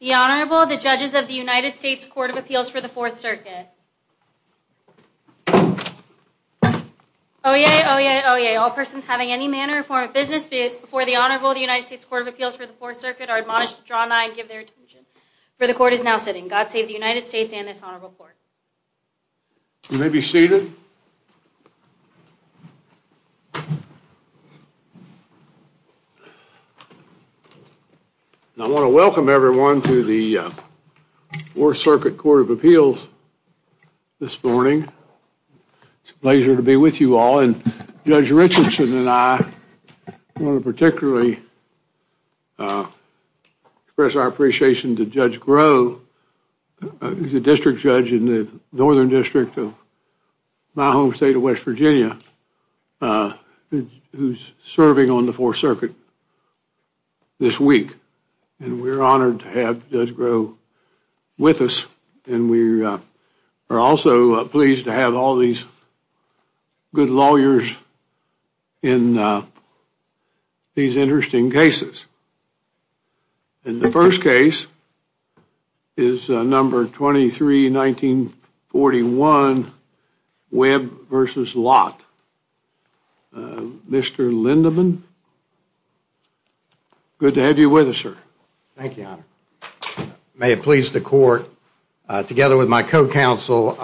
The Honorable, the judges of the United States Court of Appeals for the Fourth Circuit. Oyez, oyez, oyez, all persons having any manner or form of business before the Honorable of the United States Court of Appeals for the Fourth Circuit are admonished to draw nigh and give their attention. For the Court is now sitting. God save the United States and this Honorable Court. You may be seated. I want to welcome everyone to the Fourth Circuit Court of Appeals this morning. It's a pleasure to be with you all and Judge Richardson and I want to particularly express our appreciation to Judge Groh, the District Judge in the Northern District of my home state of West Virginia, who's serving on the Fourth Circuit this week. And we're honored to have Judge Groh with us. And we are also pleased to have all these good lawyers in these interesting cases. And the first case is number 23, 1941, Webb versus Lott. Mr. Lindeman, good to have you with us, sir. Thank you, Your Honor. May it please the Court, together with my co-counsel,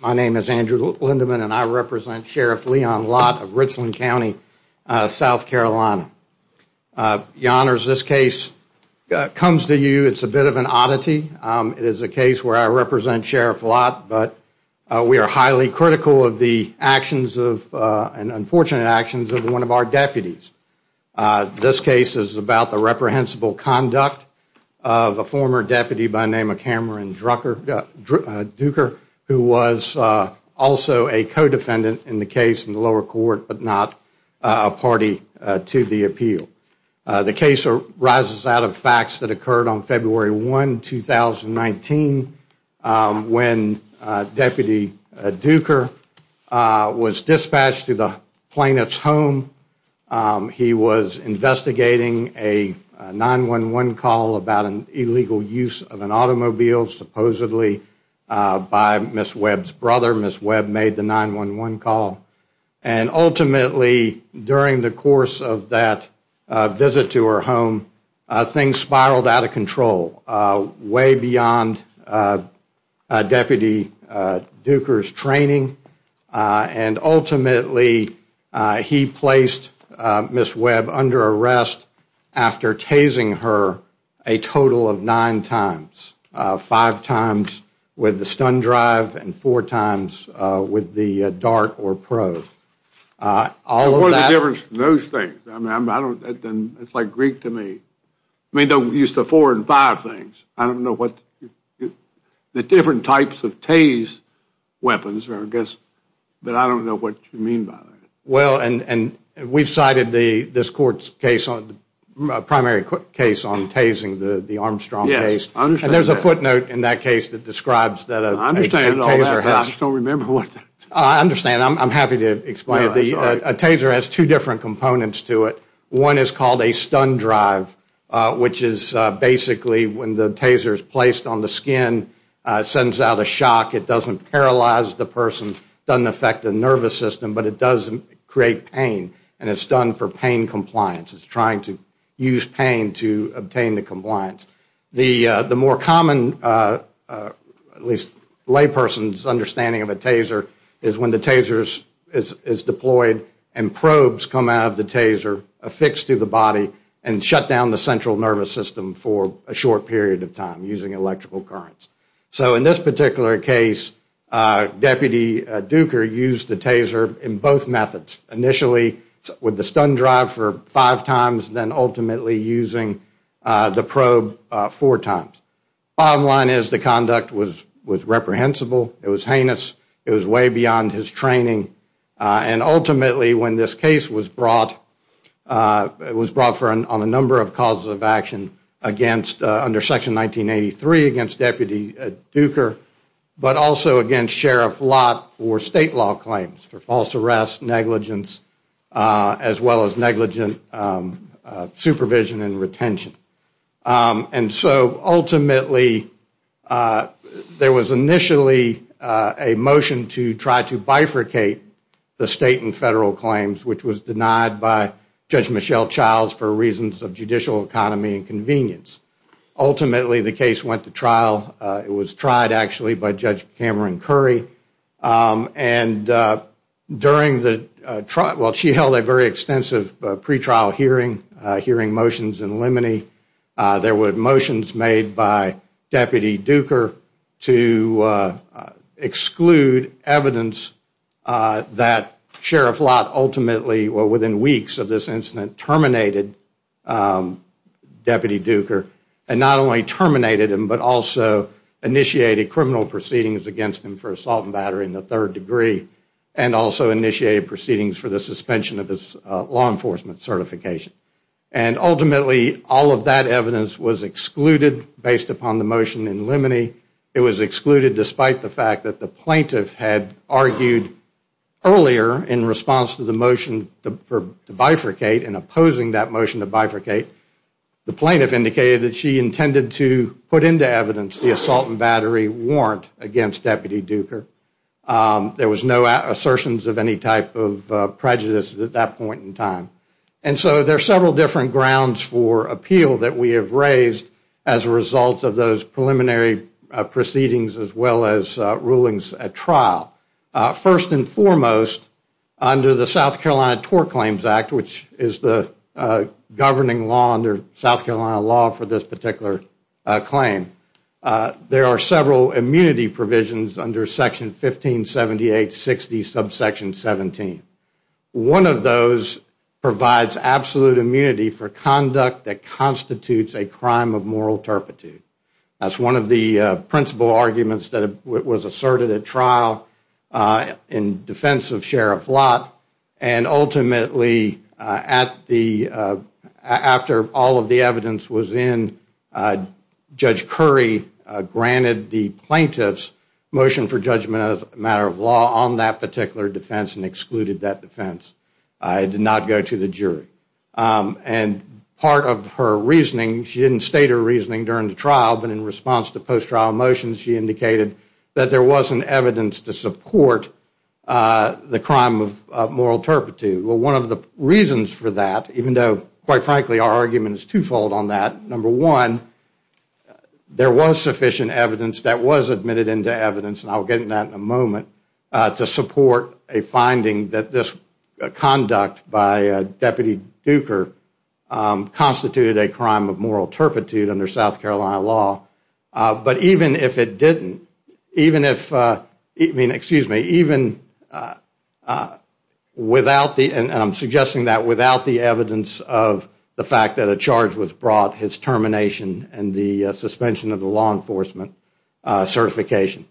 my name is Andrew Lindeman and I represent Sheriff Leon Lott of Richland County, South Carolina. Your Honor, as this case comes to you, it's a bit of an oddity. It is a case where I represent Sheriff Lott, but we are highly critical of the actions and unfortunate actions of one of our deputies. This case is about the reprehensible conduct of a former deputy by the name of Cameron Duker, who was also a co-defendant in the case in the lower court, but not a party to the appeal. The case arises out of facts that occurred on February 1, 2019, when Deputy Duker was dispatched to the plaintiff's home. He was investigating a 911 call about an illegal use of an automobile, supposedly by Ms. Webb's brother. Ms. Webb made the 911 call. And ultimately, during the course of that visit to her home, things spiraled out of control, way beyond Deputy Duker's training. And ultimately, he placed Ms. Webb under arrest after tasing her a total of nine times. Five times with the stun drive and four times with the dart or probe. What is the difference between those things? It is like Greek to me. They used the four and five things. I don't know what the different types of tase weapons are, but I don't know what you mean by that. Well, we have cited this court's primary case on tasing the Armstrong case. And there is a footnote in that case that describes that. I understand all that, but I just don't remember what that is. I understand. I'm happy to explain it. A taser has two different components to it. One is called a stun drive, which is basically when the taser is placed on the skin, sends out a shock. It doesn't paralyze the person. It doesn't affect the nervous system, but it does create pain. And it's done for pain compliance. It's trying to use pain to obtain the compliance. The more common, at least layperson's understanding of a taser is when the taser is deployed and probes come out of the taser affixed to the body and shut down the central nervous system for a short period of time using electrical currents. So in this particular case, Deputy Duker used the taser in both methods. Initially with the stun drive for five times, then ultimately using the probe four times. Bottom line is the conduct was reprehensible. It was heinous. It was way beyond his training. And ultimately, when this case was brought, it was brought on a number of causes of action under Section 1983 against Deputy Duker, but also against Sheriff Lott for state law claims, for false arrest, negligence, as well as negligent supervision and retention. And so ultimately, there was initially a motion to try to bifurcate the state and federal claims, which was denied by Judge Michelle Childs for reasons of judicial economy and convenience. Ultimately, the case went to trial. It was tried, actually, by Judge Cameron Curry. And during the trial, well, she held a very extensive pretrial hearing, hearing motions in limine. There were motions made by Deputy Duker to exclude evidence that Sheriff Lott ultimately, well, within weeks of this incident, terminated Deputy Duker and not only terminated him, but also initiated criminal proceedings against him for assault and battery in the third degree and also initiated proceedings for the suspension of his law enforcement certification. And ultimately, all of that evidence was excluded based upon the motion in limine. It was excluded despite the fact that the plaintiff had argued earlier, in response to the motion to bifurcate and opposing that motion to bifurcate, the plaintiff indicated that she intended to put into evidence the assault and battery warrant against Deputy Duker. There was no assertions of any type of prejudice at that point in time. And so there are several different grounds for appeal that we have raised as a result of those preliminary proceedings First and foremost, under the South Carolina Tort Claims Act, which is the governing law under South Carolina law for this particular claim, there are several immunity provisions under Section 1578-60, subsection 17. One of those provides absolute immunity for conduct that constitutes a crime of moral turpitude. That's one of the principal arguments that was asserted at trial in defense of Sheriff Lott. And ultimately, after all of the evidence was in, Judge Curry granted the plaintiff's motion for judgment as a matter of law on that particular defense and excluded that defense. And part of her reasoning, she didn't state her reasoning during the trial, but in response to post-trial motions, she indicated that there wasn't evidence to support the crime of moral turpitude. Well, one of the reasons for that, even though, quite frankly, our argument is twofold on that, number one, there was sufficient evidence that was admitted into evidence, and I'll get into that in a moment, to support a finding that this conduct by Deputy Duker constituted a crime of moral turpitude under South Carolina law. But even if it didn't, even if, I mean, excuse me, even without the, and I'm suggesting that without the evidence of the fact that a charge was brought, his termination and the suspension of the law enforcement certification.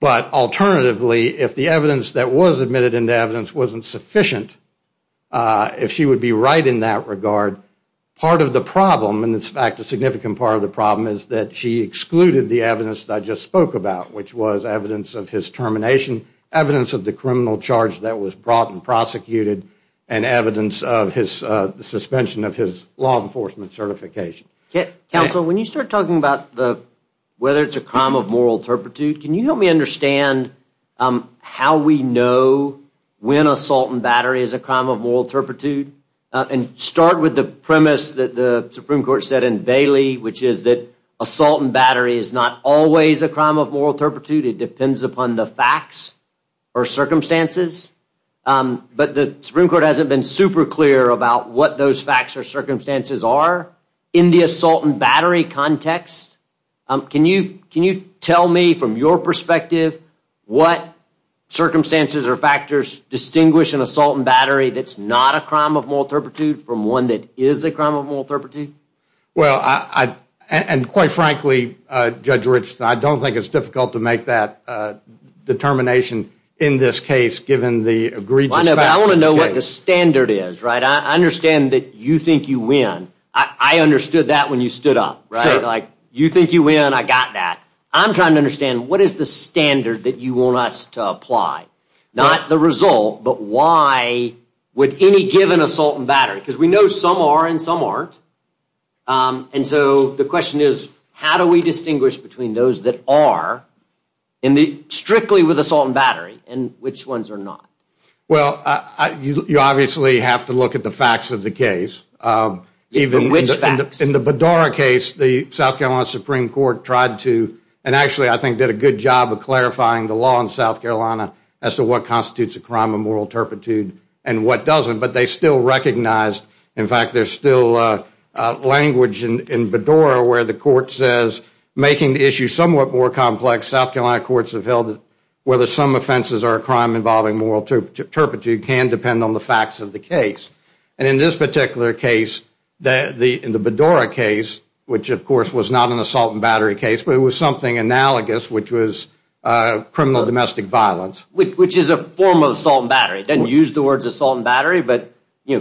But alternatively, if the evidence that was admitted into evidence wasn't sufficient, if she would be right in that regard, part of the problem, and in fact a significant part of the problem, is that she excluded the evidence that I just spoke about, which was evidence of his termination, evidence of the criminal charge that was brought and prosecuted, and evidence of his suspension of his law enforcement certification. Counsel, when you start talking about whether it's a crime of moral turpitude, can you help me understand how we know when assault and battery is a crime of moral turpitude? And start with the premise that the Supreme Court said in Bailey, which is that assault and battery is not always a crime of moral turpitude. It depends upon the facts or circumstances. But the Supreme Court hasn't been super clear about what those facts or circumstances are in the assault and battery context. Can you tell me from your perspective what circumstances or factors distinguish an assault and battery that's not a crime of moral turpitude from one that is a crime of moral turpitude? Well, and quite frankly, Judge Rich, I don't think it's difficult to make that determination in this case, given the egregious facts. I want to know what the standard is. I understand that you think you win. I understood that when you stood up. You think you win, I got that. I'm trying to understand, what is the standard that you want us to apply? Not the result, but why would any give an assault and battery? Because we know some are and some aren't. And so the question is, how do we distinguish between those that are strictly with assault and battery and which ones are not? Well, you obviously have to look at the facts of the case. In the Bedora case, the South Carolina Supreme Court tried to, and actually I think did a good job of clarifying the law in South Carolina as to what constitutes a crime of moral turpitude and what doesn't. But they still recognized, in fact, there's still language in Bedora where the court says, making the issue somewhat more complex, South Carolina courts have held whether some offenses are a crime involving moral turpitude can depend on the facts of the case. And in this particular case, the Bedora case, which of course was not an assault and battery case, but it was something analogous, which was criminal domestic violence. Which is a form of assault and battery. It doesn't use the words assault and battery, but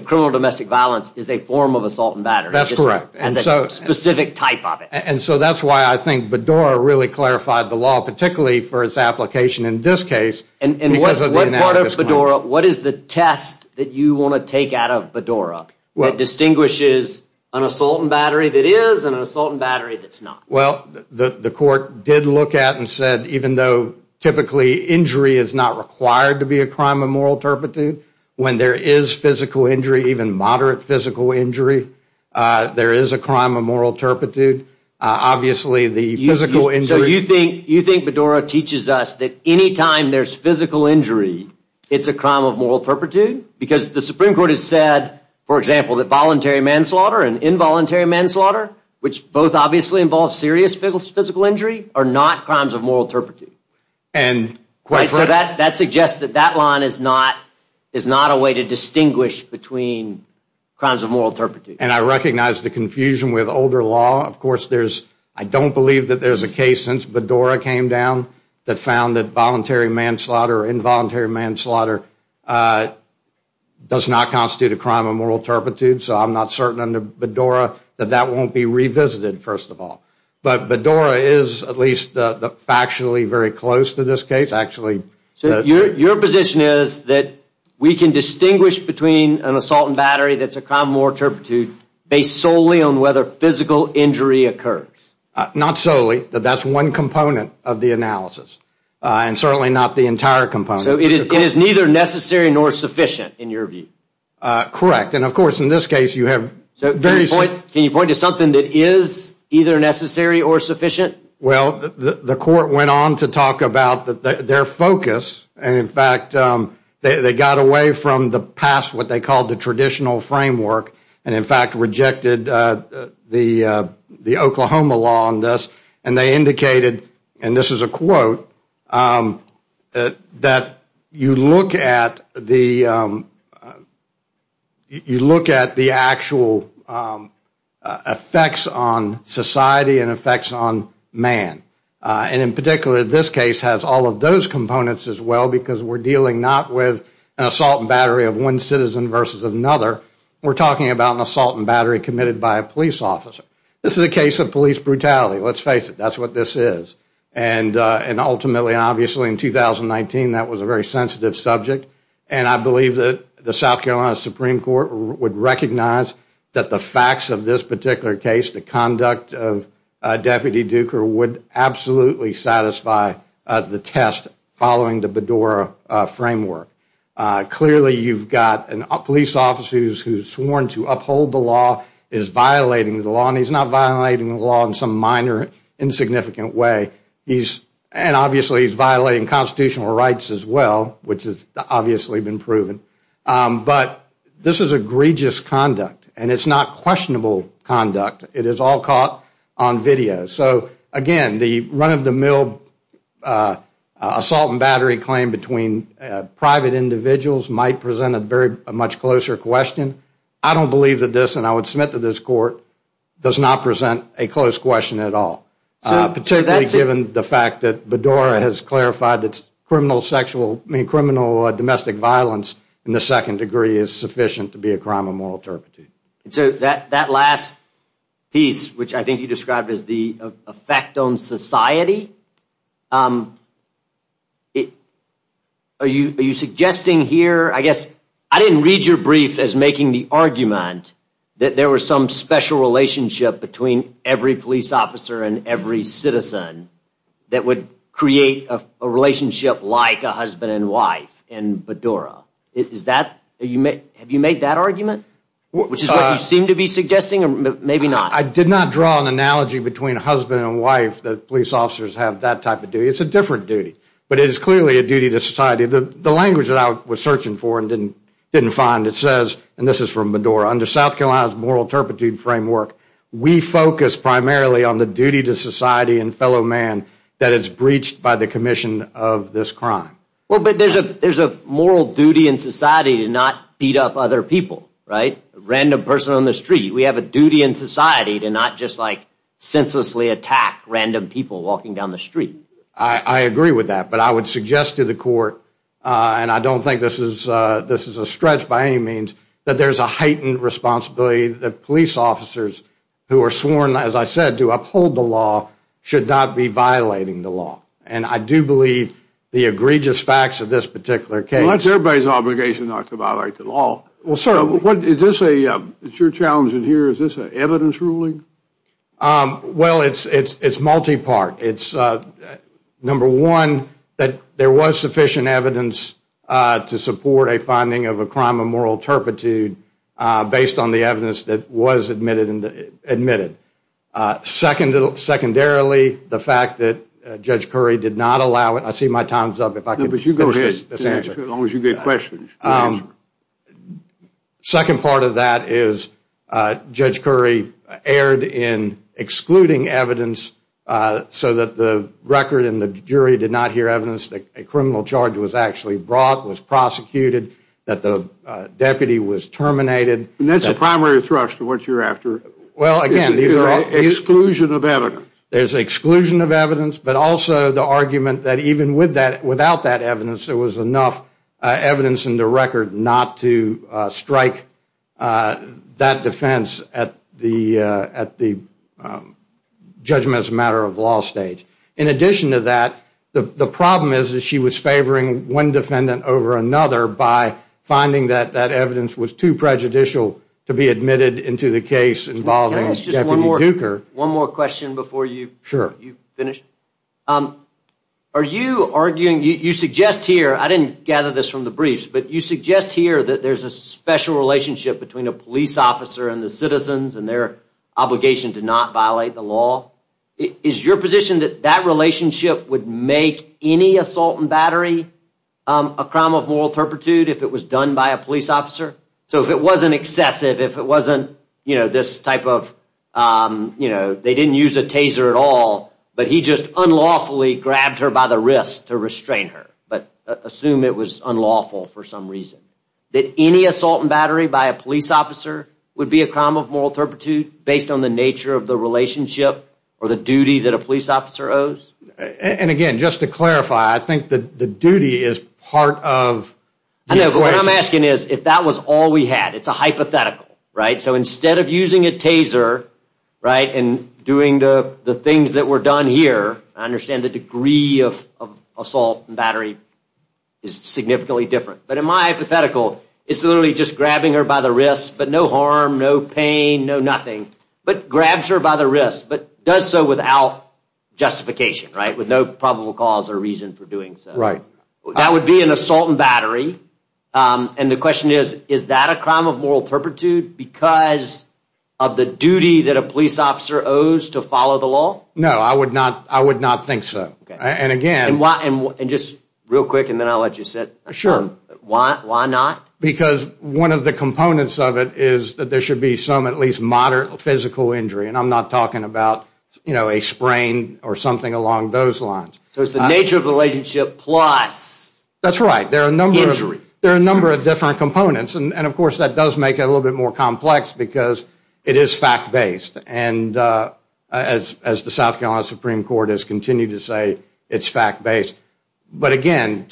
criminal domestic violence is a form of assault and battery. That's correct. As a specific type of it. And so that's why I think Bedora really clarified the law, particularly for its application in this case. And what part of Bedora, what is the test that you want to take out of Bedora that distinguishes an assault and battery that is and an assault and battery that's not? Well, the court did look at and said, even though typically injury is not required to be a crime of moral turpitude, when there is physical injury, even moderate physical injury, there is a crime of moral turpitude. Obviously, the physical injury. So you think you think Bedora teaches us that any time there's physical injury, it's a crime of moral turpitude because the Supreme Court has said, for example, that voluntary manslaughter and involuntary manslaughter, which both obviously involves serious physical injury, are not crimes of moral turpitude. And that suggests that that line is not is not a way to distinguish between crimes of moral turpitude. And I recognize the confusion with older law. Of course, there's I don't believe that there's a case since Bedora came down that found that voluntary manslaughter or involuntary manslaughter does not constitute a crime of moral turpitude. So I'm not certain under Bedora that that won't be revisited, first of all. But Bedora is at least factually very close to this case, actually. So your position is that we can distinguish between an assault and battery. That's a crime of moral turpitude based solely on whether physical injury occurs. Not solely. That's one component of the analysis and certainly not the entire component. It is neither necessary nor sufficient in your view. Correct. And of course, in this case, you have. Can you point to something that is either necessary or sufficient? Well, the court went on to talk about their focus. And in fact, they got away from the past, what they called the traditional framework, and in fact rejected the the Oklahoma law on this. And they indicated, and this is a quote, that you look at the actual effects on society and effects on man. And in particular, this case has all of those components as well, because we're dealing not with an assault and battery of one citizen versus another. We're talking about an assault and battery committed by a police officer. This is a case of police brutality. Let's face it. That's what this is. And ultimately, obviously, in 2019, that was a very sensitive subject. And I believe that the South Carolina Supreme Court would recognize that the facts of this particular case, the conduct of Deputy Duker would absolutely satisfy the test following the Bedora framework. Clearly, you've got a police officer who's sworn to uphold the law, is violating the law, and he's not violating the law in some minor, insignificant way. And obviously, he's violating constitutional rights as well, which has obviously been proven. But this is egregious conduct, and it's not questionable conduct. It is all caught on video. So again, the run-of-the-mill assault and battery claim between private individuals might present a much closer question. I don't believe that this, and I would submit to this court, does not present a close question at all, particularly given the fact that Bedora has clarified that criminal domestic violence in the second degree is sufficient to be a crime of moral turpitude. And so that last piece, which I think you described as the effect on society, are you suggesting here, I guess, I didn't read your brief as making the argument that there was some special relationship between every police officer and every citizen that would create a relationship like a husband and wife in Bedora. Have you made that argument, which is what you seem to be suggesting, or maybe not? I did not draw an analogy between husband and wife that police officers have that type of duty. It's a different duty, but it is clearly a duty to society. The language that I was searching for and didn't find, it says, and this is from Bedora, under South Carolina's moral turpitude framework, we focus primarily on the duty to society and fellow man that is breached by the commission of this crime. Well, but there's a moral duty in society to not beat up other people, right? A random person on the street. We have a duty in society to not just senselessly attack random people walking down the street. I agree with that, but I would suggest to the court, and I don't think this is a stretch by any means, that there's a heightened responsibility that police officers who are sworn, as I said, to uphold the law should not be violating the law. And I do believe the egregious facts of this particular case. Well, it's everybody's obligation not to violate the law. Well, certainly. Is your challenge in here, is this an evidence ruling? Well, it's multi-part. It's, number one, that there was sufficient evidence to support a finding of a crime of moral turpitude based on the evidence that was admitted. Secondarily, the fact that Judge Curry did not allow it. I see my time's up. No, but you go ahead. As long as you get questions. The second part of that is Judge Curry erred in excluding evidence so that the record and the jury did not hear evidence that a criminal charge was actually brought, was prosecuted, that the deputy was terminated. And that's the primary thrust of what you're after. Exclusion of evidence. There's exclusion of evidence, but also the argument that even without that evidence, there was enough evidence in the record not to strike that defense at the judgment-as-a-matter-of-law stage. In addition to that, the problem is that she was favoring one defendant over another by finding that that evidence was too prejudicial to be admitted into the case involving Deputy Duker. Can I ask just one more question before you finish? Sure. Are you arguing, you suggest here, I didn't gather this from the briefs, but you suggest here that there's a special relationship between a police officer and the citizens and their obligation to not violate the law. Is your position that that relationship would make any assault and battery a crime of moral turpitude if it was done by a police officer? So if it wasn't excessive, if it wasn't this type of, you know, they didn't use a taser at all, but he just unlawfully grabbed her by the wrist to restrain her, but assume it was unlawful for some reason. That any assault and battery by a police officer would be a crime of moral turpitude based on the nature of the relationship or the duty that a police officer owes? And again, just to clarify, I think the duty is part of the equation. I know, but what I'm asking is if that was all we had. It's a hypothetical, right? So instead of using a taser, right, and doing the things that were done here, I understand the degree of assault and battery is significantly different. But in my hypothetical, it's literally just grabbing her by the wrist, but no harm, no pain, no nothing, but grabs her by the wrist, but does so without justification, right, with no probable cause or reason for doing so. That would be an assault and battery. And the question is, is that a crime of moral turpitude because of the duty that a police officer owes to follow the law? No, I would not think so. And just real quick, and then I'll let you sit. Sure. Why not? Because one of the components of it is that there should be some at least moderate physical injury, and I'm not talking about a sprain or something along those lines. So it's the nature of the relationship plus injury. That's right. There are a number of different components. And, of course, that does make it a little bit more complex because it is fact-based. And as the South Carolina Supreme Court has continued to say, it's fact-based. But, again,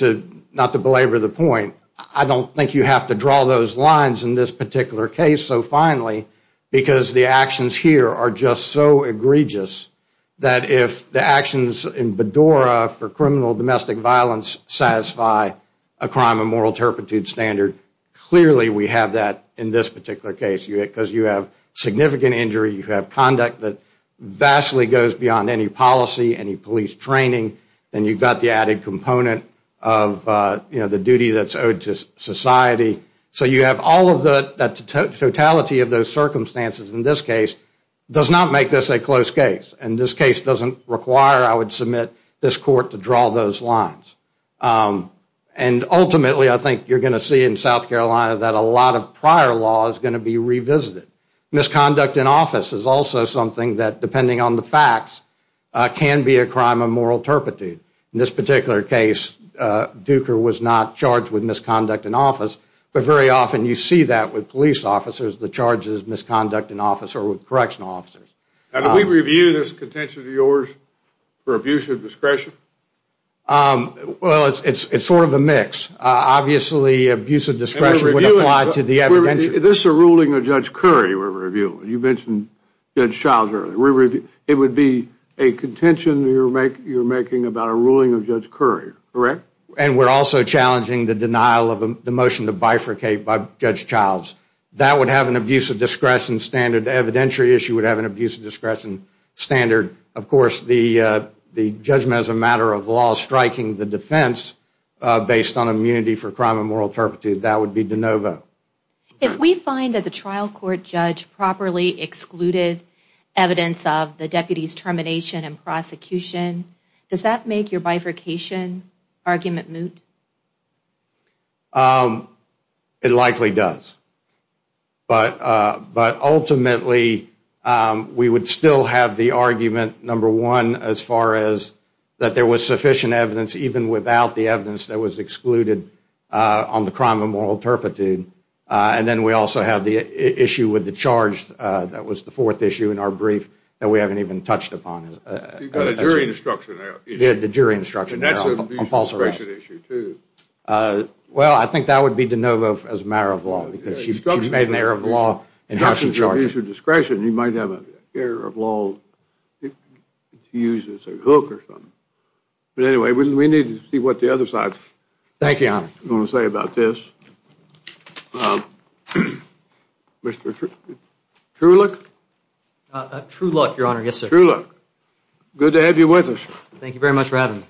not to belabor the point, I don't think you have to draw those lines in this particular case so finely because the actions here are just so egregious that if the actions in Bedora for criminal domestic violence satisfy a crime of moral turpitude standard, clearly we have that in this particular case because you have significant injury, you have conduct that vastly goes beyond any policy, any police training, and you've got the added component of the duty that's owed to society. So you have all of the totality of those circumstances in this case does not make this a close case. And this case doesn't require, I would submit, this court to draw those lines. And, ultimately, I think you're going to see in South Carolina that a lot of prior law is going to be revisited. Misconduct in office is also something that, depending on the facts, can be a crime of moral turpitude. In this particular case, Duker was not charged with misconduct in office, but very often you see that with police officers, the charges of misconduct in office or with correctional officers. Now, did we review this contention of yours for abuse of discretion? Well, it's sort of a mix. Obviously, abuse of discretion would apply to the evidentiary. This is a ruling of Judge Curry we're reviewing. You mentioned Judge Childs earlier. It would be a contention you're making about a ruling of Judge Curry, correct? And we're also challenging the denial of the motion to bifurcate by Judge Childs. That would have an abuse of discretion standard. The evidentiary issue would have an abuse of discretion standard. Of course, the judgment as a matter of law striking the defense based on immunity for crime of moral turpitude, that would be de novo. If we find that the trial court judge properly excluded evidence of the deputy's termination and prosecution, does that make your bifurcation argument moot? It likely does. But ultimately, we would still have the argument, number one, as far as that there was sufficient evidence even without the evidence that was excluded on the crime of moral turpitude. And then we also have the issue with the charge that was the fourth issue in our brief that we haven't even touched upon. You've got a jury instruction there. Yeah, the jury instruction there on false arrest. And that's an abuse of discretion issue, too. Well, I think that would be de novo as a matter of law because she's made an error of law in how she charges. If it's an abuse of discretion, you might have an error of law to use as a hook or something. But anyway, we need to see what the other side is going to say about this. Thank you, Your Honor. Mr. Truelock? Truelock, Your Honor. Yes, sir. Mr. Truelock, good to have you with us. Thank you very much for having me.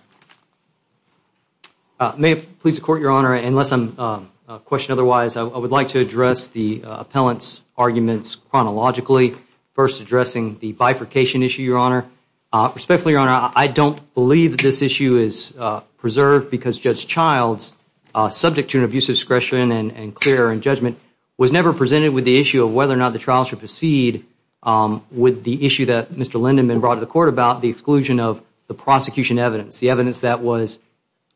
May it please the court, Your Honor, unless I'm questioned otherwise, I would like to address the appellant's arguments chronologically, first addressing the bifurcation issue, Your Honor. Respectfully, Your Honor, I don't believe that this issue is preserved because Judge Childs, subject to an abuse of discretion and clear in judgment, was never presented with the issue of whether or not the trial should proceed with the issue that Mr. Lindemann brought to the court about, the exclusion of the prosecution evidence, the evidence that was,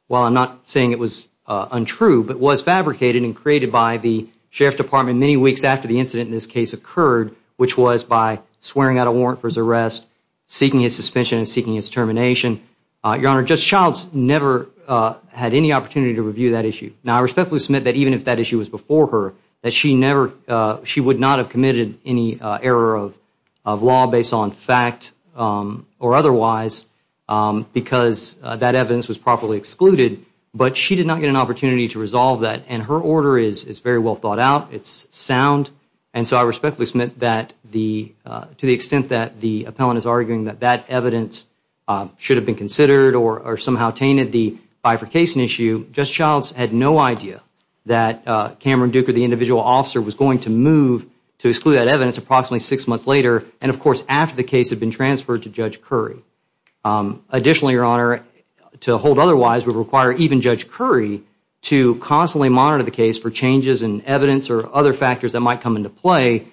while I'm not saying it was untrue, but was fabricated and created by the Sheriff's Department many weeks after the incident in this case occurred, which was by swearing out a warrant for his arrest, seeking his suspension and seeking his termination. Your Honor, Judge Childs never had any opportunity to review that issue. Now, I respectfully submit that even if that issue was before her, that she would not have committed any error of law based on fact or otherwise, because that evidence was properly excluded, but she did not get an opportunity to resolve that, and her order is very well thought out, it's sound, and so I respectfully submit that to the extent that the appellant is arguing that that evidence should have been considered or somehow tainted the bifurcation issue, Judge Childs had no idea that Cameron Duker, the individual officer, was going to move to exclude that evidence approximately six months later, and of course after the case had been transferred to Judge Curry. Additionally, Your Honor, to hold otherwise would require even Judge Curry to constantly monitor the case for changes in evidence or other factors that might come into play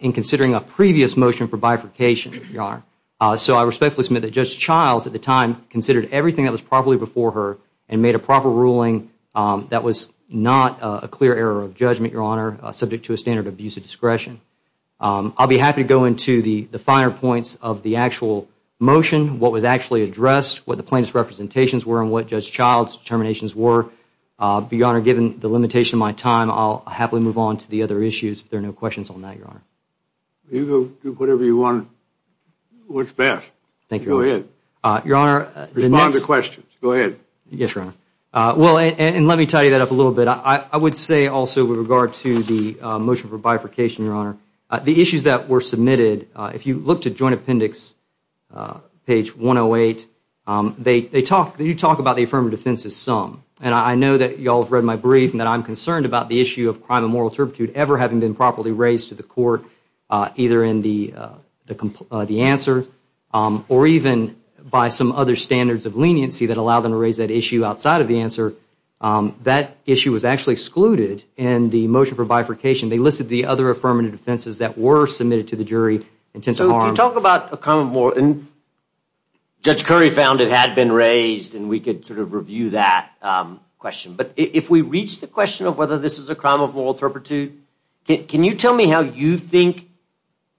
in considering a previous motion for bifurcation, Your Honor. So I respectfully submit that Judge Childs at the time considered everything that was properly before her and made a proper ruling that was not a clear error of judgment, Your Honor, subject to a standard of abuse of discretion. I'll be happy to go into the finer points of the actual motion, what was actually addressed, what the plaintiff's representations were, and what Judge Childs' determinations were. Your Honor, given the limitation of my time, I'll happily move on to the other issues if there are no questions on that, Your Honor. You go do whatever you want. What's best. Thank you, Your Honor. Go ahead. Your Honor, the next- Respond to questions. Go ahead. Yes, Your Honor. Well, and let me tidy that up a little bit. I would say also with regard to the motion for bifurcation, Your Honor, the issues that were submitted, if you look to Joint Appendix page 108, they talk, you talk about the affirmative defense as some, and I know that you all have read my brief and that I'm concerned about the issue of crime of moral turpitude ever having been properly raised to the court, either in the answer or even by some other standards of leniency that allow them to raise that issue outside of the answer. That issue was actually excluded in the motion for bifurcation. They listed the other affirmative defenses that were submitted to the jury. So if you talk about a crime of moral, and Judge Curry found it had been raised and we could sort of review that question. But if we reach the question of whether this is a crime of moral turpitude, can you tell me how you think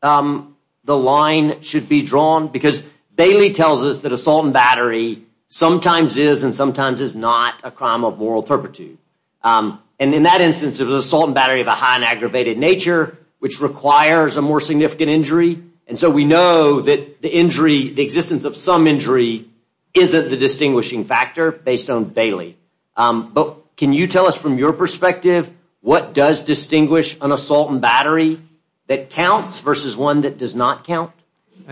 the line should be drawn? Because Bailey tells us that assault and battery sometimes is and sometimes is not a crime of moral turpitude. And in that instance, it was assault and battery of a high and aggravated nature, which requires a more significant injury. And so we know that the injury, the existence of some injury, isn't the distinguishing factor based on Bailey. But can you tell us from your perspective, what does distinguish an assault and battery that counts versus one that does not count?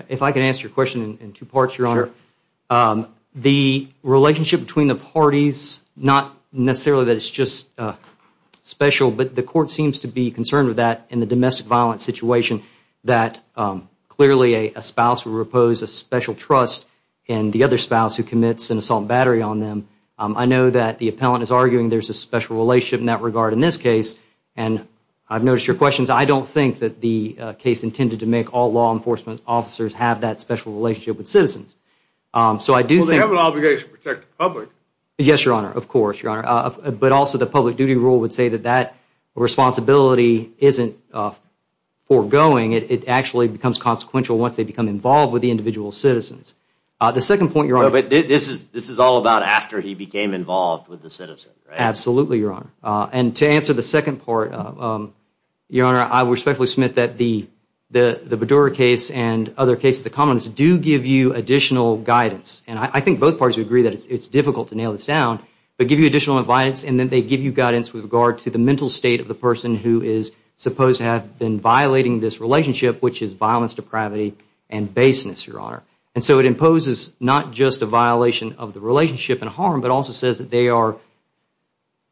If I can answer your question in two parts, Your Honor. Sure. The relationship between the parties, not necessarily that it's just special, but the court seems to be concerned with that in the domestic violence situation that clearly a spouse will repose a special trust in the other spouse who commits an assault and battery on them. I know that the appellant is arguing there's a special relationship in that regard in this case. And I've noticed your questions. I don't think that the case intended to make all law enforcement officers have that special relationship with citizens. So I do think. Well, they have an obligation to protect the public. Yes, Your Honor. Of course, Your Honor. But also the public duty rule would say that that responsibility isn't foregoing. It actually becomes consequential once they become involved with the individual citizens. The second point, Your Honor. But this is all about after he became involved with the citizen, right? Absolutely, Your Honor. And to answer the second part, Your Honor, I respectfully submit that the Badour case and other cases of the commons do give you additional guidance. And I think both parties would agree that it's difficult to nail this down, but give you additional guidance and then they give you guidance with regard to the mental state of the person who is supposed to have been violating this relationship, which is violence, depravity, and baseness, Your Honor. And so it imposes not just a violation of the relationship and harm, but also says that they are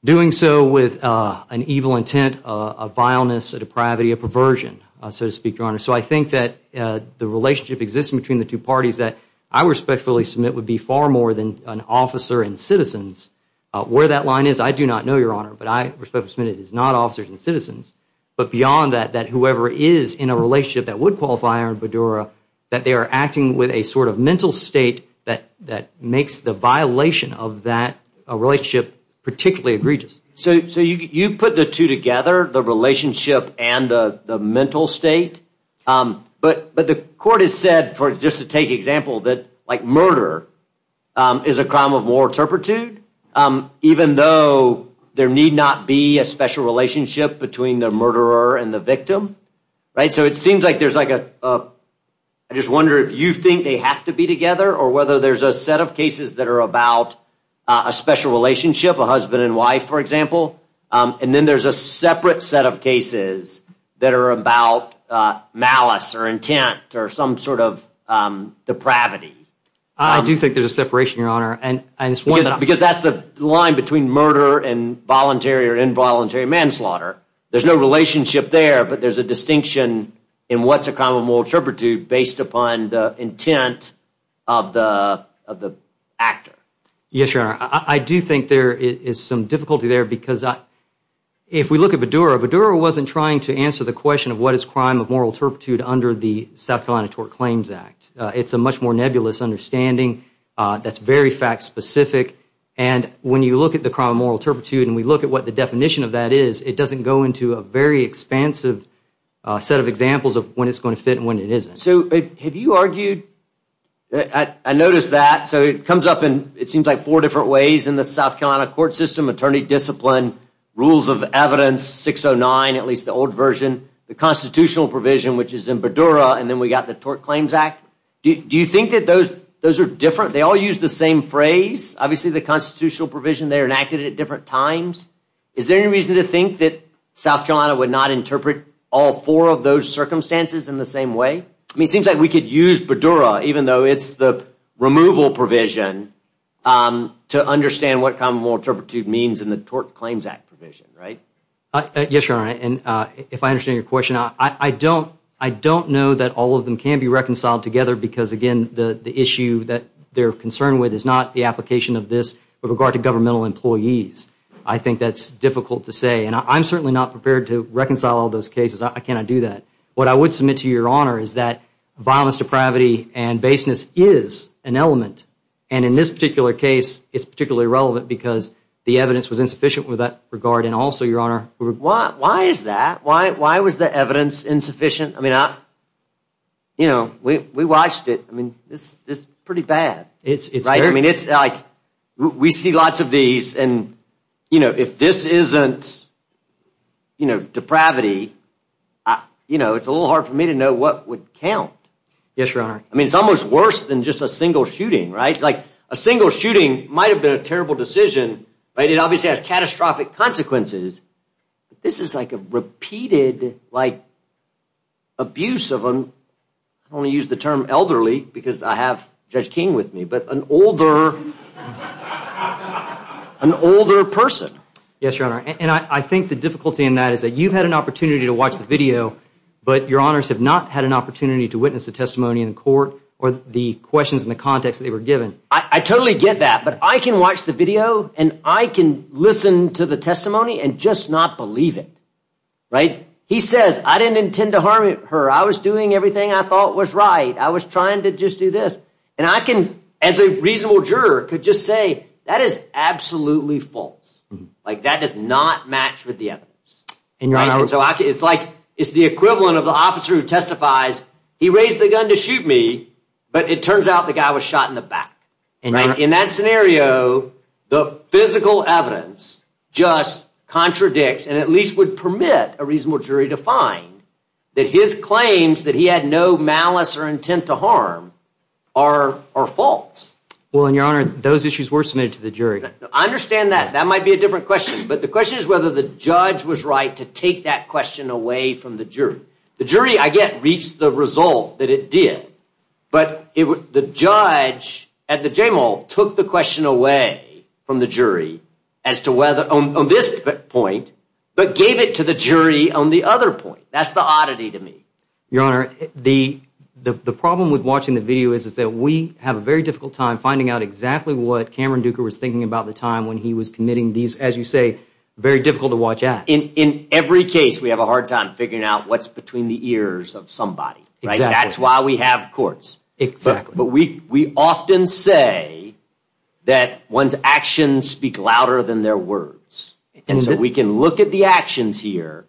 doing so with an evil intent, a vileness, a depravity, a perversion, so to speak, Your Honor. So I think that the relationship existing between the two parties that I respectfully submit would be far more than an officer and citizens. Where that line is, I do not know, Your Honor, but I respectfully submit it is not officers and citizens. But beyond that, that whoever is in a relationship that would qualify Iran-Badour, that they are acting with a sort of mental state that makes the violation of that relationship particularly egregious. So you put the two together, the relationship and the mental state, but the court has said, just to take example, that murder is a crime of more turpitude, even though there need not be a special relationship between the murderer and the victim. So it seems like there's like a, I just wonder if you think they have to be together, or whether there's a set of cases that are about a special relationship, a husband and wife, for example, and then there's a separate set of cases that are about malice or intent or some sort of depravity. I do think there's a separation, Your Honor. Because that's the line between murder and voluntary or involuntary manslaughter. There's no relationship there, but there's a distinction in what's a crime of moral turpitude based upon the intent of the actor. Yes, Your Honor. I do think there is some difficulty there, because if we look at Badour, Badour wasn't trying to answer the question of what is crime of moral turpitude under the South Carolina Tort Claims Act. It's a much more nebulous understanding that's very fact-specific. And when you look at the crime of moral turpitude and we look at what the definition of that is, it doesn't go into a very expansive set of examples of when it's going to fit and when it isn't. So have you argued, I noticed that, so it comes up in, it seems like four different ways in the South Carolina court system, attorney discipline, rules of evidence 609, at least the old version, the constitutional provision, which is in Badour, and then we got the Tort Claims Act. Do you think that those are different? They all use the same phrase? Obviously, the constitutional provision, they're enacted at different times. Is there any reason to think that South Carolina would not interpret all four of those circumstances in the same way? I mean, it seems like we could use Badour, even though it's the removal provision, to understand what crime of moral turpitude means in the Tort Claims Act provision, right? Yes, Your Honor, and if I understand your question, I don't know that all of them can be reconciled together because, again, the issue that they're concerned with is not the application of this with regard to governmental employees. I think that's difficult to say, and I'm certainly not prepared to reconcile all those cases. I cannot do that. What I would submit to Your Honor is that violence, depravity, and baseness is an element, and in this particular case, it's particularly relevant because the evidence was insufficient with that regard, and also, Your Honor— Why is that? Why was the evidence insufficient? I mean, we watched it. I mean, this is pretty bad, right? I mean, we see lots of these, and if this isn't depravity, it's a little hard for me to know what would count. Yes, Your Honor. I mean, it's almost worse than just a single shooting, right? Like, a single shooting might have been a terrible decision, right? It obviously has catastrophic consequences, but this is like a repeated, like, abuse of an— I'm going to use the term elderly because I have Judge King with me, but an older person. Yes, Your Honor, and I think the difficulty in that is that you've had an opportunity to watch the video, but Your Honors have not had an opportunity to witness the testimony in court or the questions in the context that they were given. I totally get that, but I can watch the video, and I can listen to the testimony and just not believe it, right? He says, I didn't intend to harm her. I was doing everything I thought was right. I was trying to just do this, and I can, as a reasonable juror, could just say, that is absolutely false. Like, that does not match with the evidence. It's like, it's the equivalent of the officer who testifies, he raised the gun to shoot me, but it turns out the guy was shot in the back, right? In that scenario, the physical evidence just contradicts and at least would permit a reasonable jury to find that his claims that he had no malice or intent to harm are false. Well, Your Honor, those issues were submitted to the jury. I understand that. That might be a different question. But the question is whether the judge was right to take that question away from the jury. The jury, I get, reached the result that it did, but the judge at the J-Mall took the question away from the jury as to whether, on this point, but gave it to the jury on the other point. That's the oddity to me. Your Honor, the problem with watching the video is that we have a very difficult time finding out exactly what Cameron Duker was thinking about the time when he was committing these, as you say, very difficult to watch acts. In every case, we have a hard time figuring out what's between the ears of somebody. Exactly. That's why we have courts. Exactly. But we often say that one's actions speak louder than their words. And so we can look at the actions here,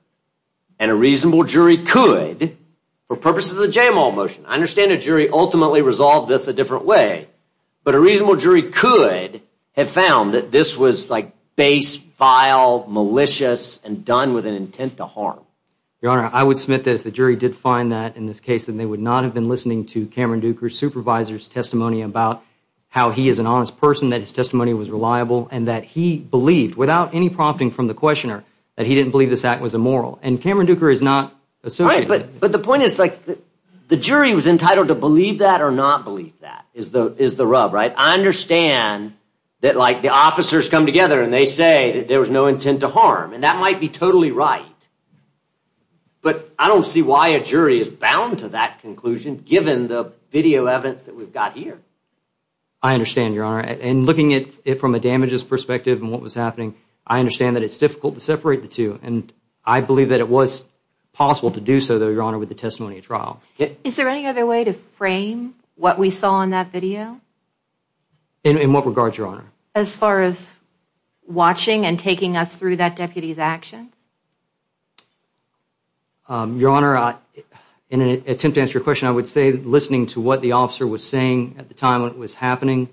and a reasonable jury could, for purposes of the J-Mall motion, I understand a jury ultimately resolved this a different way, but a reasonable jury could have found that this was base, vile, malicious, and done with an intent to harm. Your Honor, I would submit that if the jury did find that in this case, then they would not have been listening to Cameron Duker's supervisor's testimony about how he is an honest person, that his testimony was reliable, and that he believed, without any prompting from the questioner, that he didn't believe this act was immoral. But the point is, like, the jury was entitled to believe that or not believe that is the rub, right? I understand that, like, the officers come together and they say that there was no intent to harm, and that might be totally right, but I don't see why a jury is bound to that conclusion, given the video evidence that we've got here. I understand, Your Honor, and looking at it from a damages perspective and what was happening, I understand that it's difficult to separate the two, and I believe that it was possible to do so, Your Honor, with the testimony at trial. Is there any other way to frame what we saw in that video? In what regard, Your Honor? As far as watching and taking us through that deputy's actions? Your Honor, in an attempt to answer your question, I would say that listening to what the officer was saying at the time when it was happening,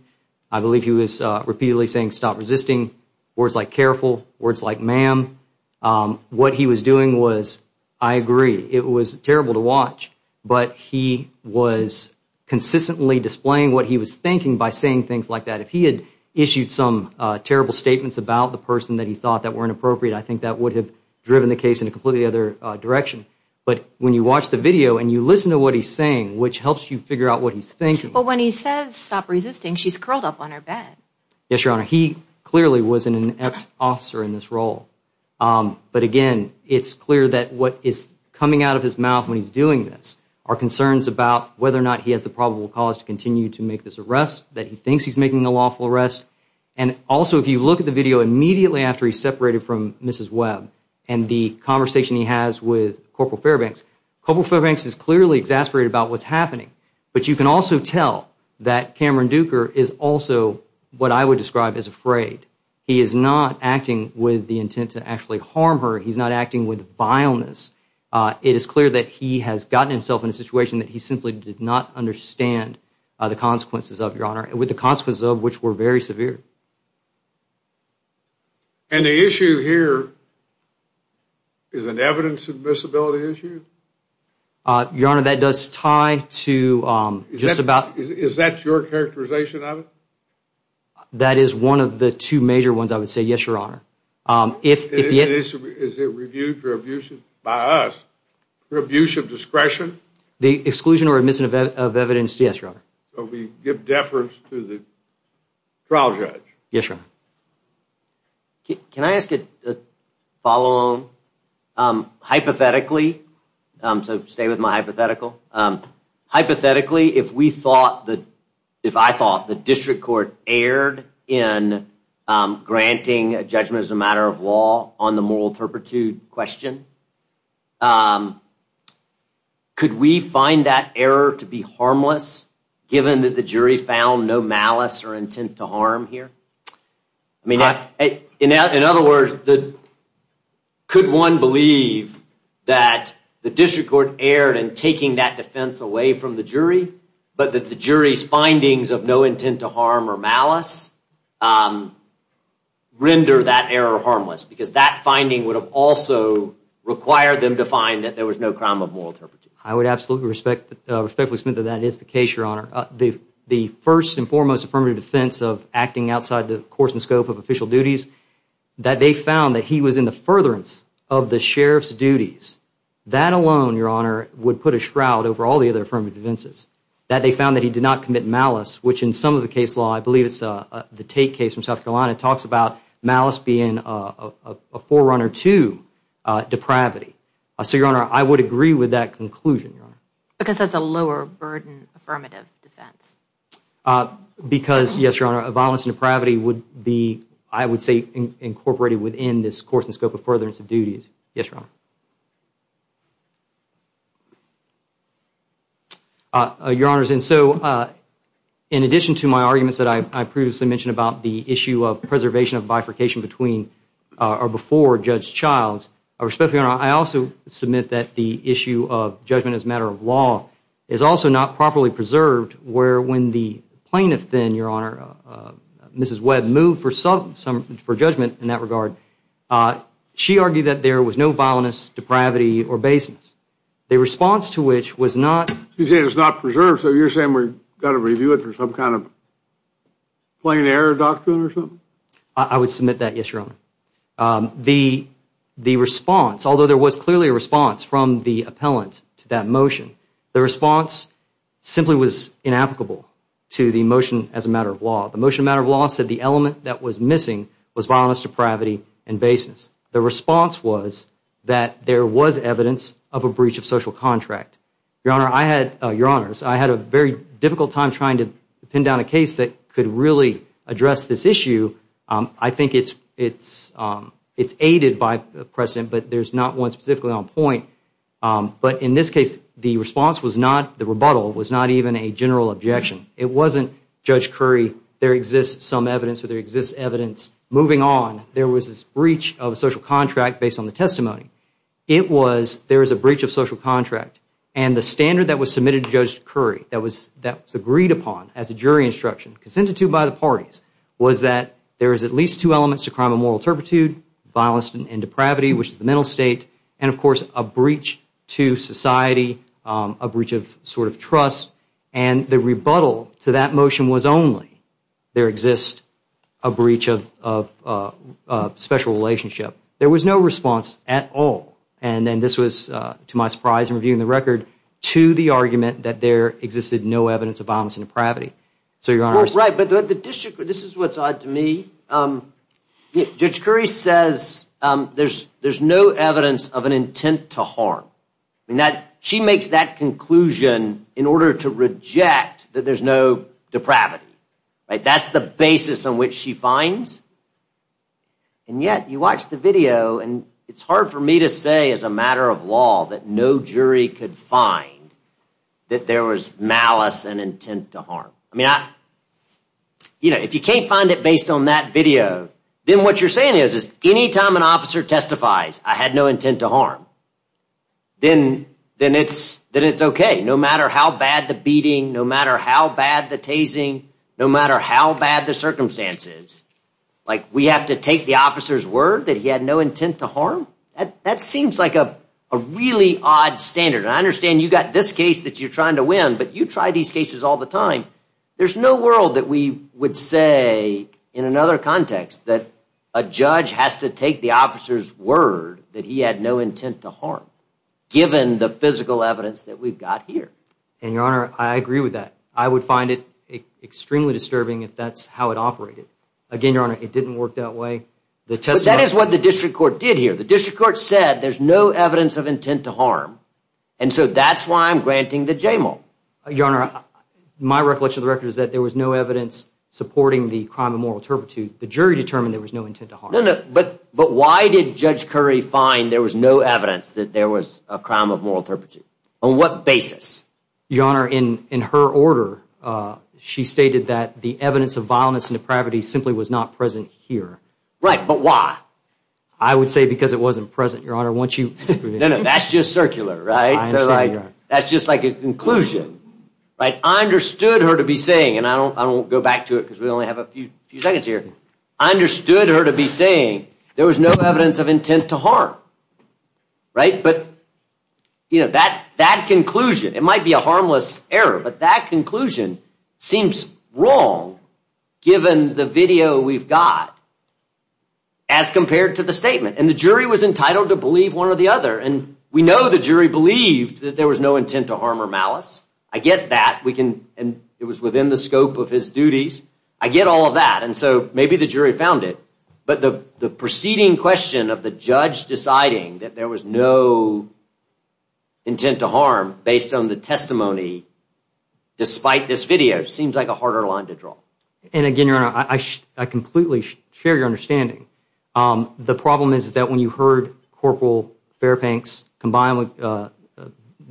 I believe he was repeatedly saying, stop resisting, words like careful, words like ma'am. What he was doing was, I agree, it was terrible to watch, but he was consistently displaying what he was thinking by saying things like that. If he had issued some terrible statements about the person that he thought that were inappropriate, I think that would have driven the case in a completely other direction. But when you watch the video and you listen to what he's saying, which helps you figure out what he's thinking. But when he says stop resisting, she's curled up on her bed. Yes, Your Honor. He clearly was an inept officer in this role. But again, it's clear that what is coming out of his mouth when he's doing this are concerns about whether or not he has the probable cause to continue to make this arrest, that he thinks he's making a lawful arrest. And also, if you look at the video immediately after he's separated from Mrs. Webb and the conversation he has with Corporal Fairbanks, Corporal Fairbanks is clearly exasperated about what's happening. But you can also tell that Cameron Duker is also what I would describe as afraid. He is not acting with the intent to actually harm her. He's not acting with vileness. It is clear that he has gotten himself in a situation that he simply did not understand the consequences of, Your Honor, with the consequences of which were very severe. And the issue here is an evidence admissibility issue? Your Honor, that does tie to just about... Is that your characterization of it? That is one of the two major ones I would say, yes, Your Honor. Is it reviewed for abuse by us for abuse of discretion? The exclusion or admission of evidence, yes, Your Honor. So we give deference to the trial judge? Yes, Your Honor. Can I ask a follow-on? Hypothetically, so stay with my hypothetical. Hypothetically, if I thought the district court erred in granting a judgment as a matter of law on the moral turpitude question, could we find that error to be harmless given that the jury found no malice or intent to harm here? In other words, could one believe that the district court erred in taking that defense away from the jury, but that the jury's findings of no intent to harm or malice render that error harmless? Because that finding would have also required them to find that there was no crime of moral turpitude. I would absolutely respectfully submit that that is the case, Your Honor. The first and foremost affirmative defense of acting outside the course and scope of official duties, that they found that he was in the furtherance of the sheriff's duties, that alone, Your Honor, would put a shroud over all the other affirmative defenses. That they found that he did not commit malice, which in some of the case law, I believe it's the Tate case from South Carolina, talks about malice being a forerunner to depravity. So, Your Honor, I would agree with that conclusion, Your Honor. Because that's a lower burden affirmative defense. Because, yes, Your Honor, violence and depravity would be, I would say, incorporated within this course and scope of furtherance of duties. Yes, Your Honor. Your Honors, in addition to my arguments that I previously mentioned about the issue of preservation of bifurcation between or before Judge Childs, I also submit that the issue of judgment as a matter of law is also not properly preserved where when the plaintiff then, Your Honor, Mrs. Webb, moved for judgment in that regard, she argued that there was no violence, depravity, or baseness. The response to which was not... You're saying it's not preserved, so you're saying we've got to review it for some kind of plain error doctrine or something? I would submit that, yes, Your Honor. The response, although there was clearly a response from the appellant to that motion, the response simply was inapplicable to the motion as a matter of law. The motion as a matter of law said the element that was missing was violence, depravity, and baseness. The response was that there was evidence of a breach of social contract. Your Honor, I had... Your Honors, I had a very difficult time trying to pin down a case that could really address this issue. I think it's aided by precedent, but there's not one specifically on point. But in this case, the response was not... The rebuttal was not even a general objection. It wasn't, Judge Curry, there exists some evidence or there exists evidence. Moving on, there was this breach of social contract based on the testimony. It was there was a breach of social contract, and the standard that was submitted to Judge Curry that was agreed upon as a jury instruction, consented to by the parties, was that there is at least two elements to crime of moral turpitude, violence and depravity, which is the mental state, and of course a breach to society, a breach of sort of trust, and the rebuttal to that motion was only there exists a breach of special relationship. There was no response at all, and this was to my surprise in reviewing the record, to the argument that there existed no evidence of violence and depravity. Right, but this is what's odd to me. Judge Curry says there's no evidence of an intent to harm. She makes that conclusion in order to reject that there's no depravity. That's the basis on which she finds, and yet you watch the video, and it's hard for me to say as a matter of law that no jury could find that there was malice and intent to harm. I mean, if you can't find it based on that video, then what you're saying is any time an officer testifies, I had no intent to harm, then it's okay. No matter how bad the beating, no matter how bad the tasing, no matter how bad the circumstances, like we have to take the officer's word that he had no intent to harm? That seems like a really odd standard, and I understand you've got this case that you're trying to win, but you try these cases all the time. There's no world that we would say in another context that a judge has to take the officer's word that he had no intent to harm, given the physical evidence that we've got here. And, Your Honor, I agree with that. I would find it extremely disturbing if that's how it operated. Again, Your Honor, it didn't work that way. But that is what the district court did here. The district court said there's no evidence of intent to harm, and so that's why I'm granting the JML. Your Honor, my recollection of the record is that there was no evidence supporting the crime of moral turpitude. The jury determined there was no intent to harm. No, no, but why did Judge Curry find there was no evidence that there was a crime of moral turpitude? On what basis? Your Honor, in her order, she stated that the evidence of violence and depravity simply was not present here. Right, but why? I would say because it wasn't present, Your Honor. No, no, that's just circular, right? I understand, Your Honor. That's just like a conclusion. I understood her to be saying, and I won't go back to it because we only have a few seconds here, I understood her to be saying there was no evidence of intent to harm. Right, but that conclusion, it might be a harmless error, but that conclusion seems wrong given the video we've got. As compared to the statement, and the jury was entitled to believe one or the other, and we know the jury believed that there was no intent to harm or malice. I get that, and it was within the scope of his duties. I get all of that, and so maybe the jury found it, but the preceding question of the judge deciding that there was no intent to harm based on the testimony despite this video seems like a harder line to draw. And again, Your Honor, I completely share your understanding. The problem is that when you heard Corporal Fairbanks combine with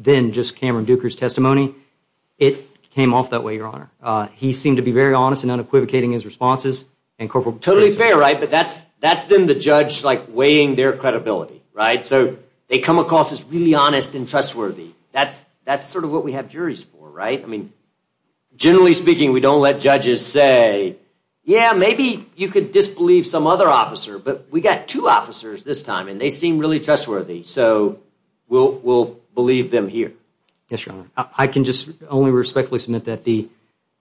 then just Cameron Duker's testimony, it came off that way, Your Honor. He seemed to be very honest and unequivocating in his responses. Totally fair, right? But that's then the judge weighing their credibility, right? So they come across as really honest and trustworthy. That's sort of what we have juries for, right? Generally speaking, we don't let judges say, yeah, maybe you could disbelieve some other officer, but we got two officers this time, and they seem really trustworthy, so we'll believe them here. Yes, Your Honor. I can just only respectfully submit that the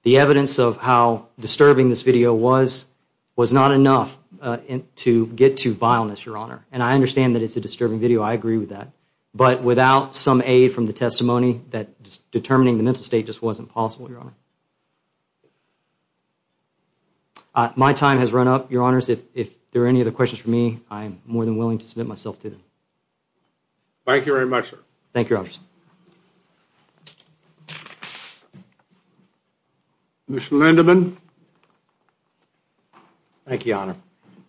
evidence of how disturbing this video was was not enough to get to vileness, Your Honor. And I understand that it's a disturbing video. I agree with that. But without some aid from the testimony that determining the mental state just wasn't possible, Your Honor. My time has run up, Your Honors. If there are any other questions for me, I'm more than willing to submit myself to them. Thank you very much, sir. Thank you, Your Honors. Commissioner Lindeman. Thank you, Your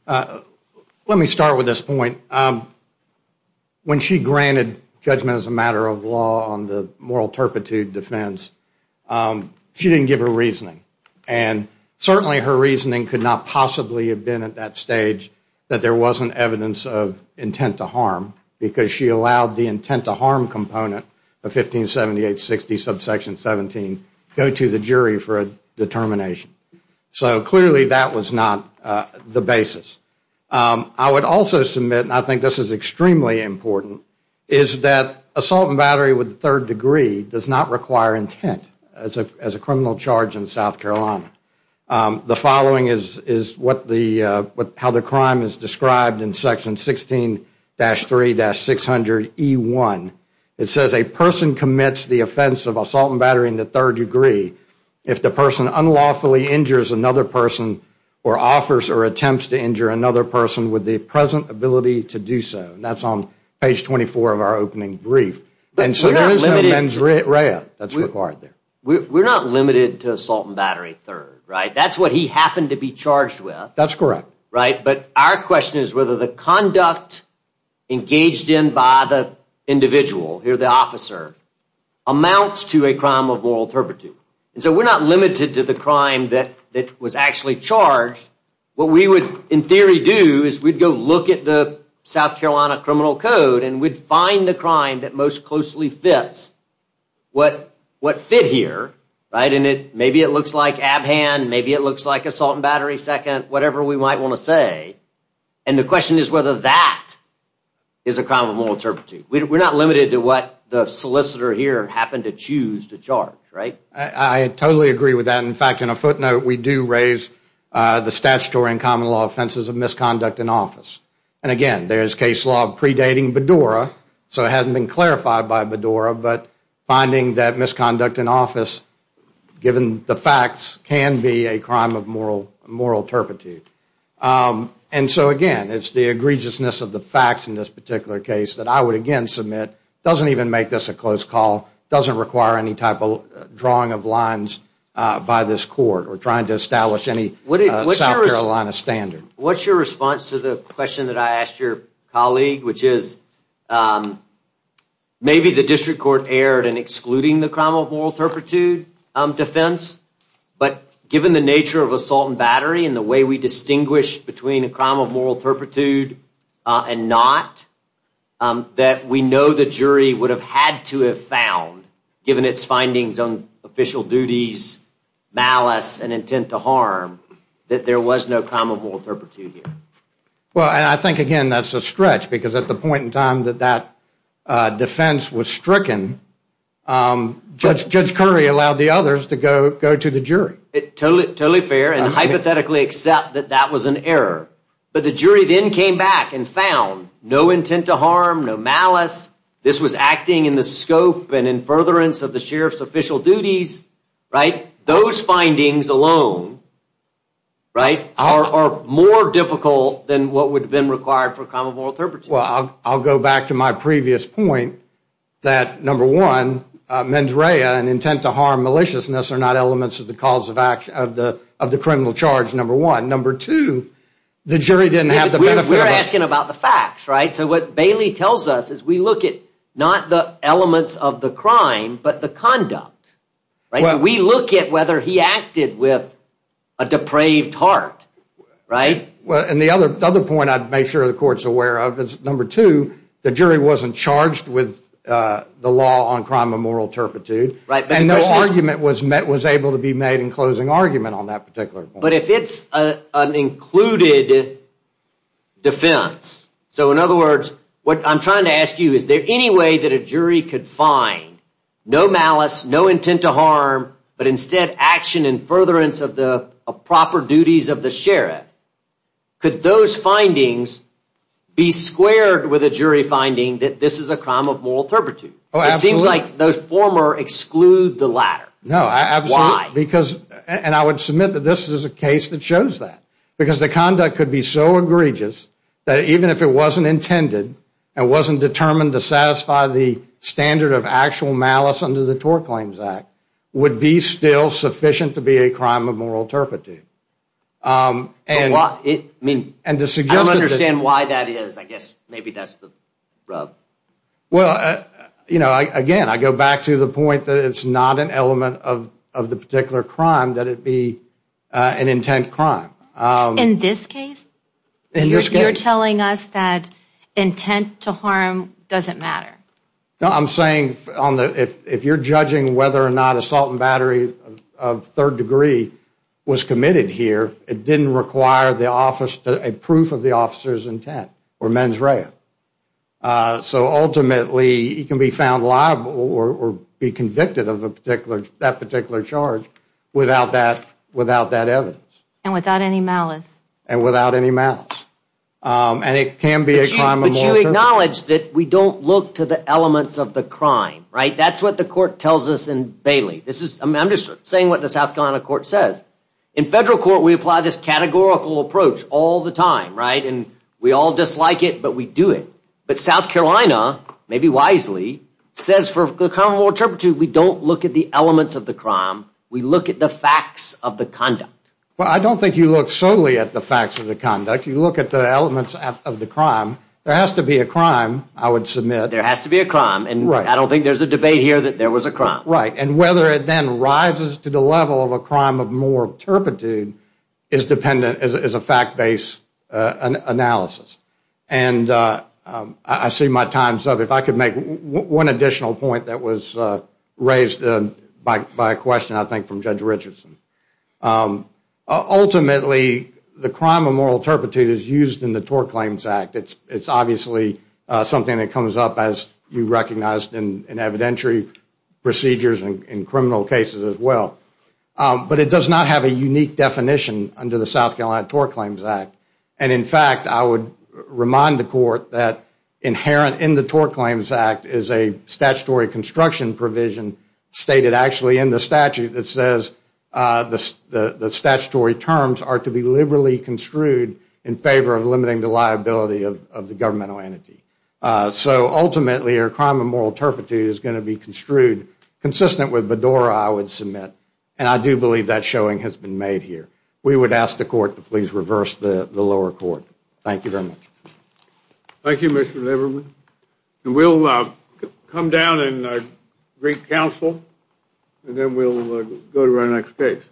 Honor. Let me start with this point. When she granted judgment as a matter of law on the moral turpitude defense, she didn't give her reasoning. And certainly her reasoning could not possibly have been at that stage that there wasn't evidence of intent to harm because she allowed the intent to harm component of 157860, subsection 17, go to the jury for a determination. So clearly that was not the basis. I would also submit, and I think this is extremely important, is that assault and battery with a third degree does not require intent as a criminal charge in South Carolina. The following is how the crime is described in section 16-3-600E1. It says, a person commits the offense of assault and battery in the third degree if the person unlawfully injures another person or offers or attempts to injure another person with the present ability to do so. And that's on page 24 of our opening brief. And so there is no mens rea that's required there. We're not limited to assault and battery third, right? That's what he happened to be charged with. That's correct. But our question is whether the conduct engaged in by the individual, here the officer, amounts to a crime of moral turpitude. And so we're not limited to the crime that was actually charged. What we would, in theory, do is we'd go look at the South Carolina criminal code and we'd find the crime that most closely fits what fit here. And maybe it looks like ab hand, maybe it looks like assault and battery second, whatever we might want to say. And the question is whether that is a crime of moral turpitude. We're not limited to what the solicitor here happened to choose to charge, right? I totally agree with that. In fact, in a footnote, we do raise the statutory and common law offenses of misconduct in office. And, again, there's case law predating Bedora, so it hasn't been clarified by Bedora, but finding that misconduct in office, given the facts, can be a crime of moral turpitude. And so, again, it's the egregiousness of the facts in this particular case that I would, again, submit doesn't even make this a close call, doesn't require any type of drawing of lines by this court or trying to establish any South Carolina standard. What's your response to the question that I asked your colleague, which is maybe the district court erred in excluding the crime of moral turpitude defense, but given the nature of assault and battery and the way we distinguish between a crime of moral turpitude and not, that we know the jury would have had to have found, given its findings on official duties, malice, and intent to harm, that there was no crime of moral turpitude here? Well, I think, again, that's a stretch, because at the point in time that that defense was stricken, Judge Curry allowed the others to go to the jury. Totally fair, and hypothetically accept that that was an error. But the jury then came back and found no intent to harm, no malice. This was acting in the scope and in furtherance of the sheriff's official duties. Those findings alone are more difficult than what would have been required for a crime of moral turpitude. Well, I'll go back to my previous point that, number one, mens rea and intent to harm maliciousness are not elements of the criminal charge, number one. Number two, the jury didn't have the benefit of that. We're asking about the facts, right? So what Bailey tells us is we look at not the elements of the crime, but the conduct, right? So we look at whether he acted with a depraved heart, right? And the other point I'd make sure the court's aware of is, number two, the jury wasn't charged with the law on crime of moral turpitude, and no argument was able to be made in closing argument on that particular point. But if it's an included defense, so in other words, what I'm trying to ask you, is there any way that a jury could find no malice, no intent to harm, but instead action in furtherance of the proper duties of the sheriff? Could those findings be squared with a jury finding that this is a crime of moral turpitude? It seems like those former exclude the latter. No, absolutely. Why? And I would submit that this is a case that shows that, because the conduct could be so egregious that even if it wasn't intended and wasn't determined to satisfy the standard of actual malice under the Tort Claims Act, would be still sufficient to be a crime of moral turpitude. I don't understand why that is. I guess maybe that's the rub. Well, again, I go back to the point that it's not an element of the particular crime that it be an intent crime. In this case? In this case. You're telling us that intent to harm doesn't matter? No, I'm saying if you're judging whether or not assault and battery of third degree was committed here, it didn't require a proof of the officer's intent or mens rea. So ultimately, he can be found liable or be convicted of that particular charge without that evidence. And without any malice. And without any malice. And it can be a crime of moral turpitude. But you acknowledge that we don't look to the elements of the crime, right? That's what the court tells us in Bailey. I'm just saying what the South Carolina court says. In federal court, we apply this categorical approach all the time, right? And we all dislike it, but we do it. But South Carolina, maybe wisely, says for the common moral turpitude, we don't look at the elements of the crime. We look at the facts of the conduct. Well, I don't think you look solely at the facts of the conduct. You look at the elements of the crime. There has to be a crime, I would submit. There has to be a crime. Right. And whether it then rises to the level of a crime of moral turpitude is a fact-based analysis. And I see my time's up. If I could make one additional point that was raised by a question, I think, from Judge Richardson. Ultimately, the crime of moral turpitude is used in the Tort Claims Act. It's obviously something that comes up, as you recognized, in evidentiary procedures and criminal cases as well. But it does not have a unique definition under the South Carolina Tort Claims Act. And, in fact, I would remind the court that inherent in the Tort Claims Act is a statutory construction provision stated actually in the statute that says the statutory terms are to be liberally construed in favor of limiting the liability of the governmental entity. So, ultimately, a crime of moral turpitude is going to be construed consistent with Bedora, I would submit. And I do believe that showing has been made here. We would ask the court to please reverse the lower court. Thank you very much. Thank you, Mr. Lieberman. We'll come down and greet counsel, and then we'll go to our next case.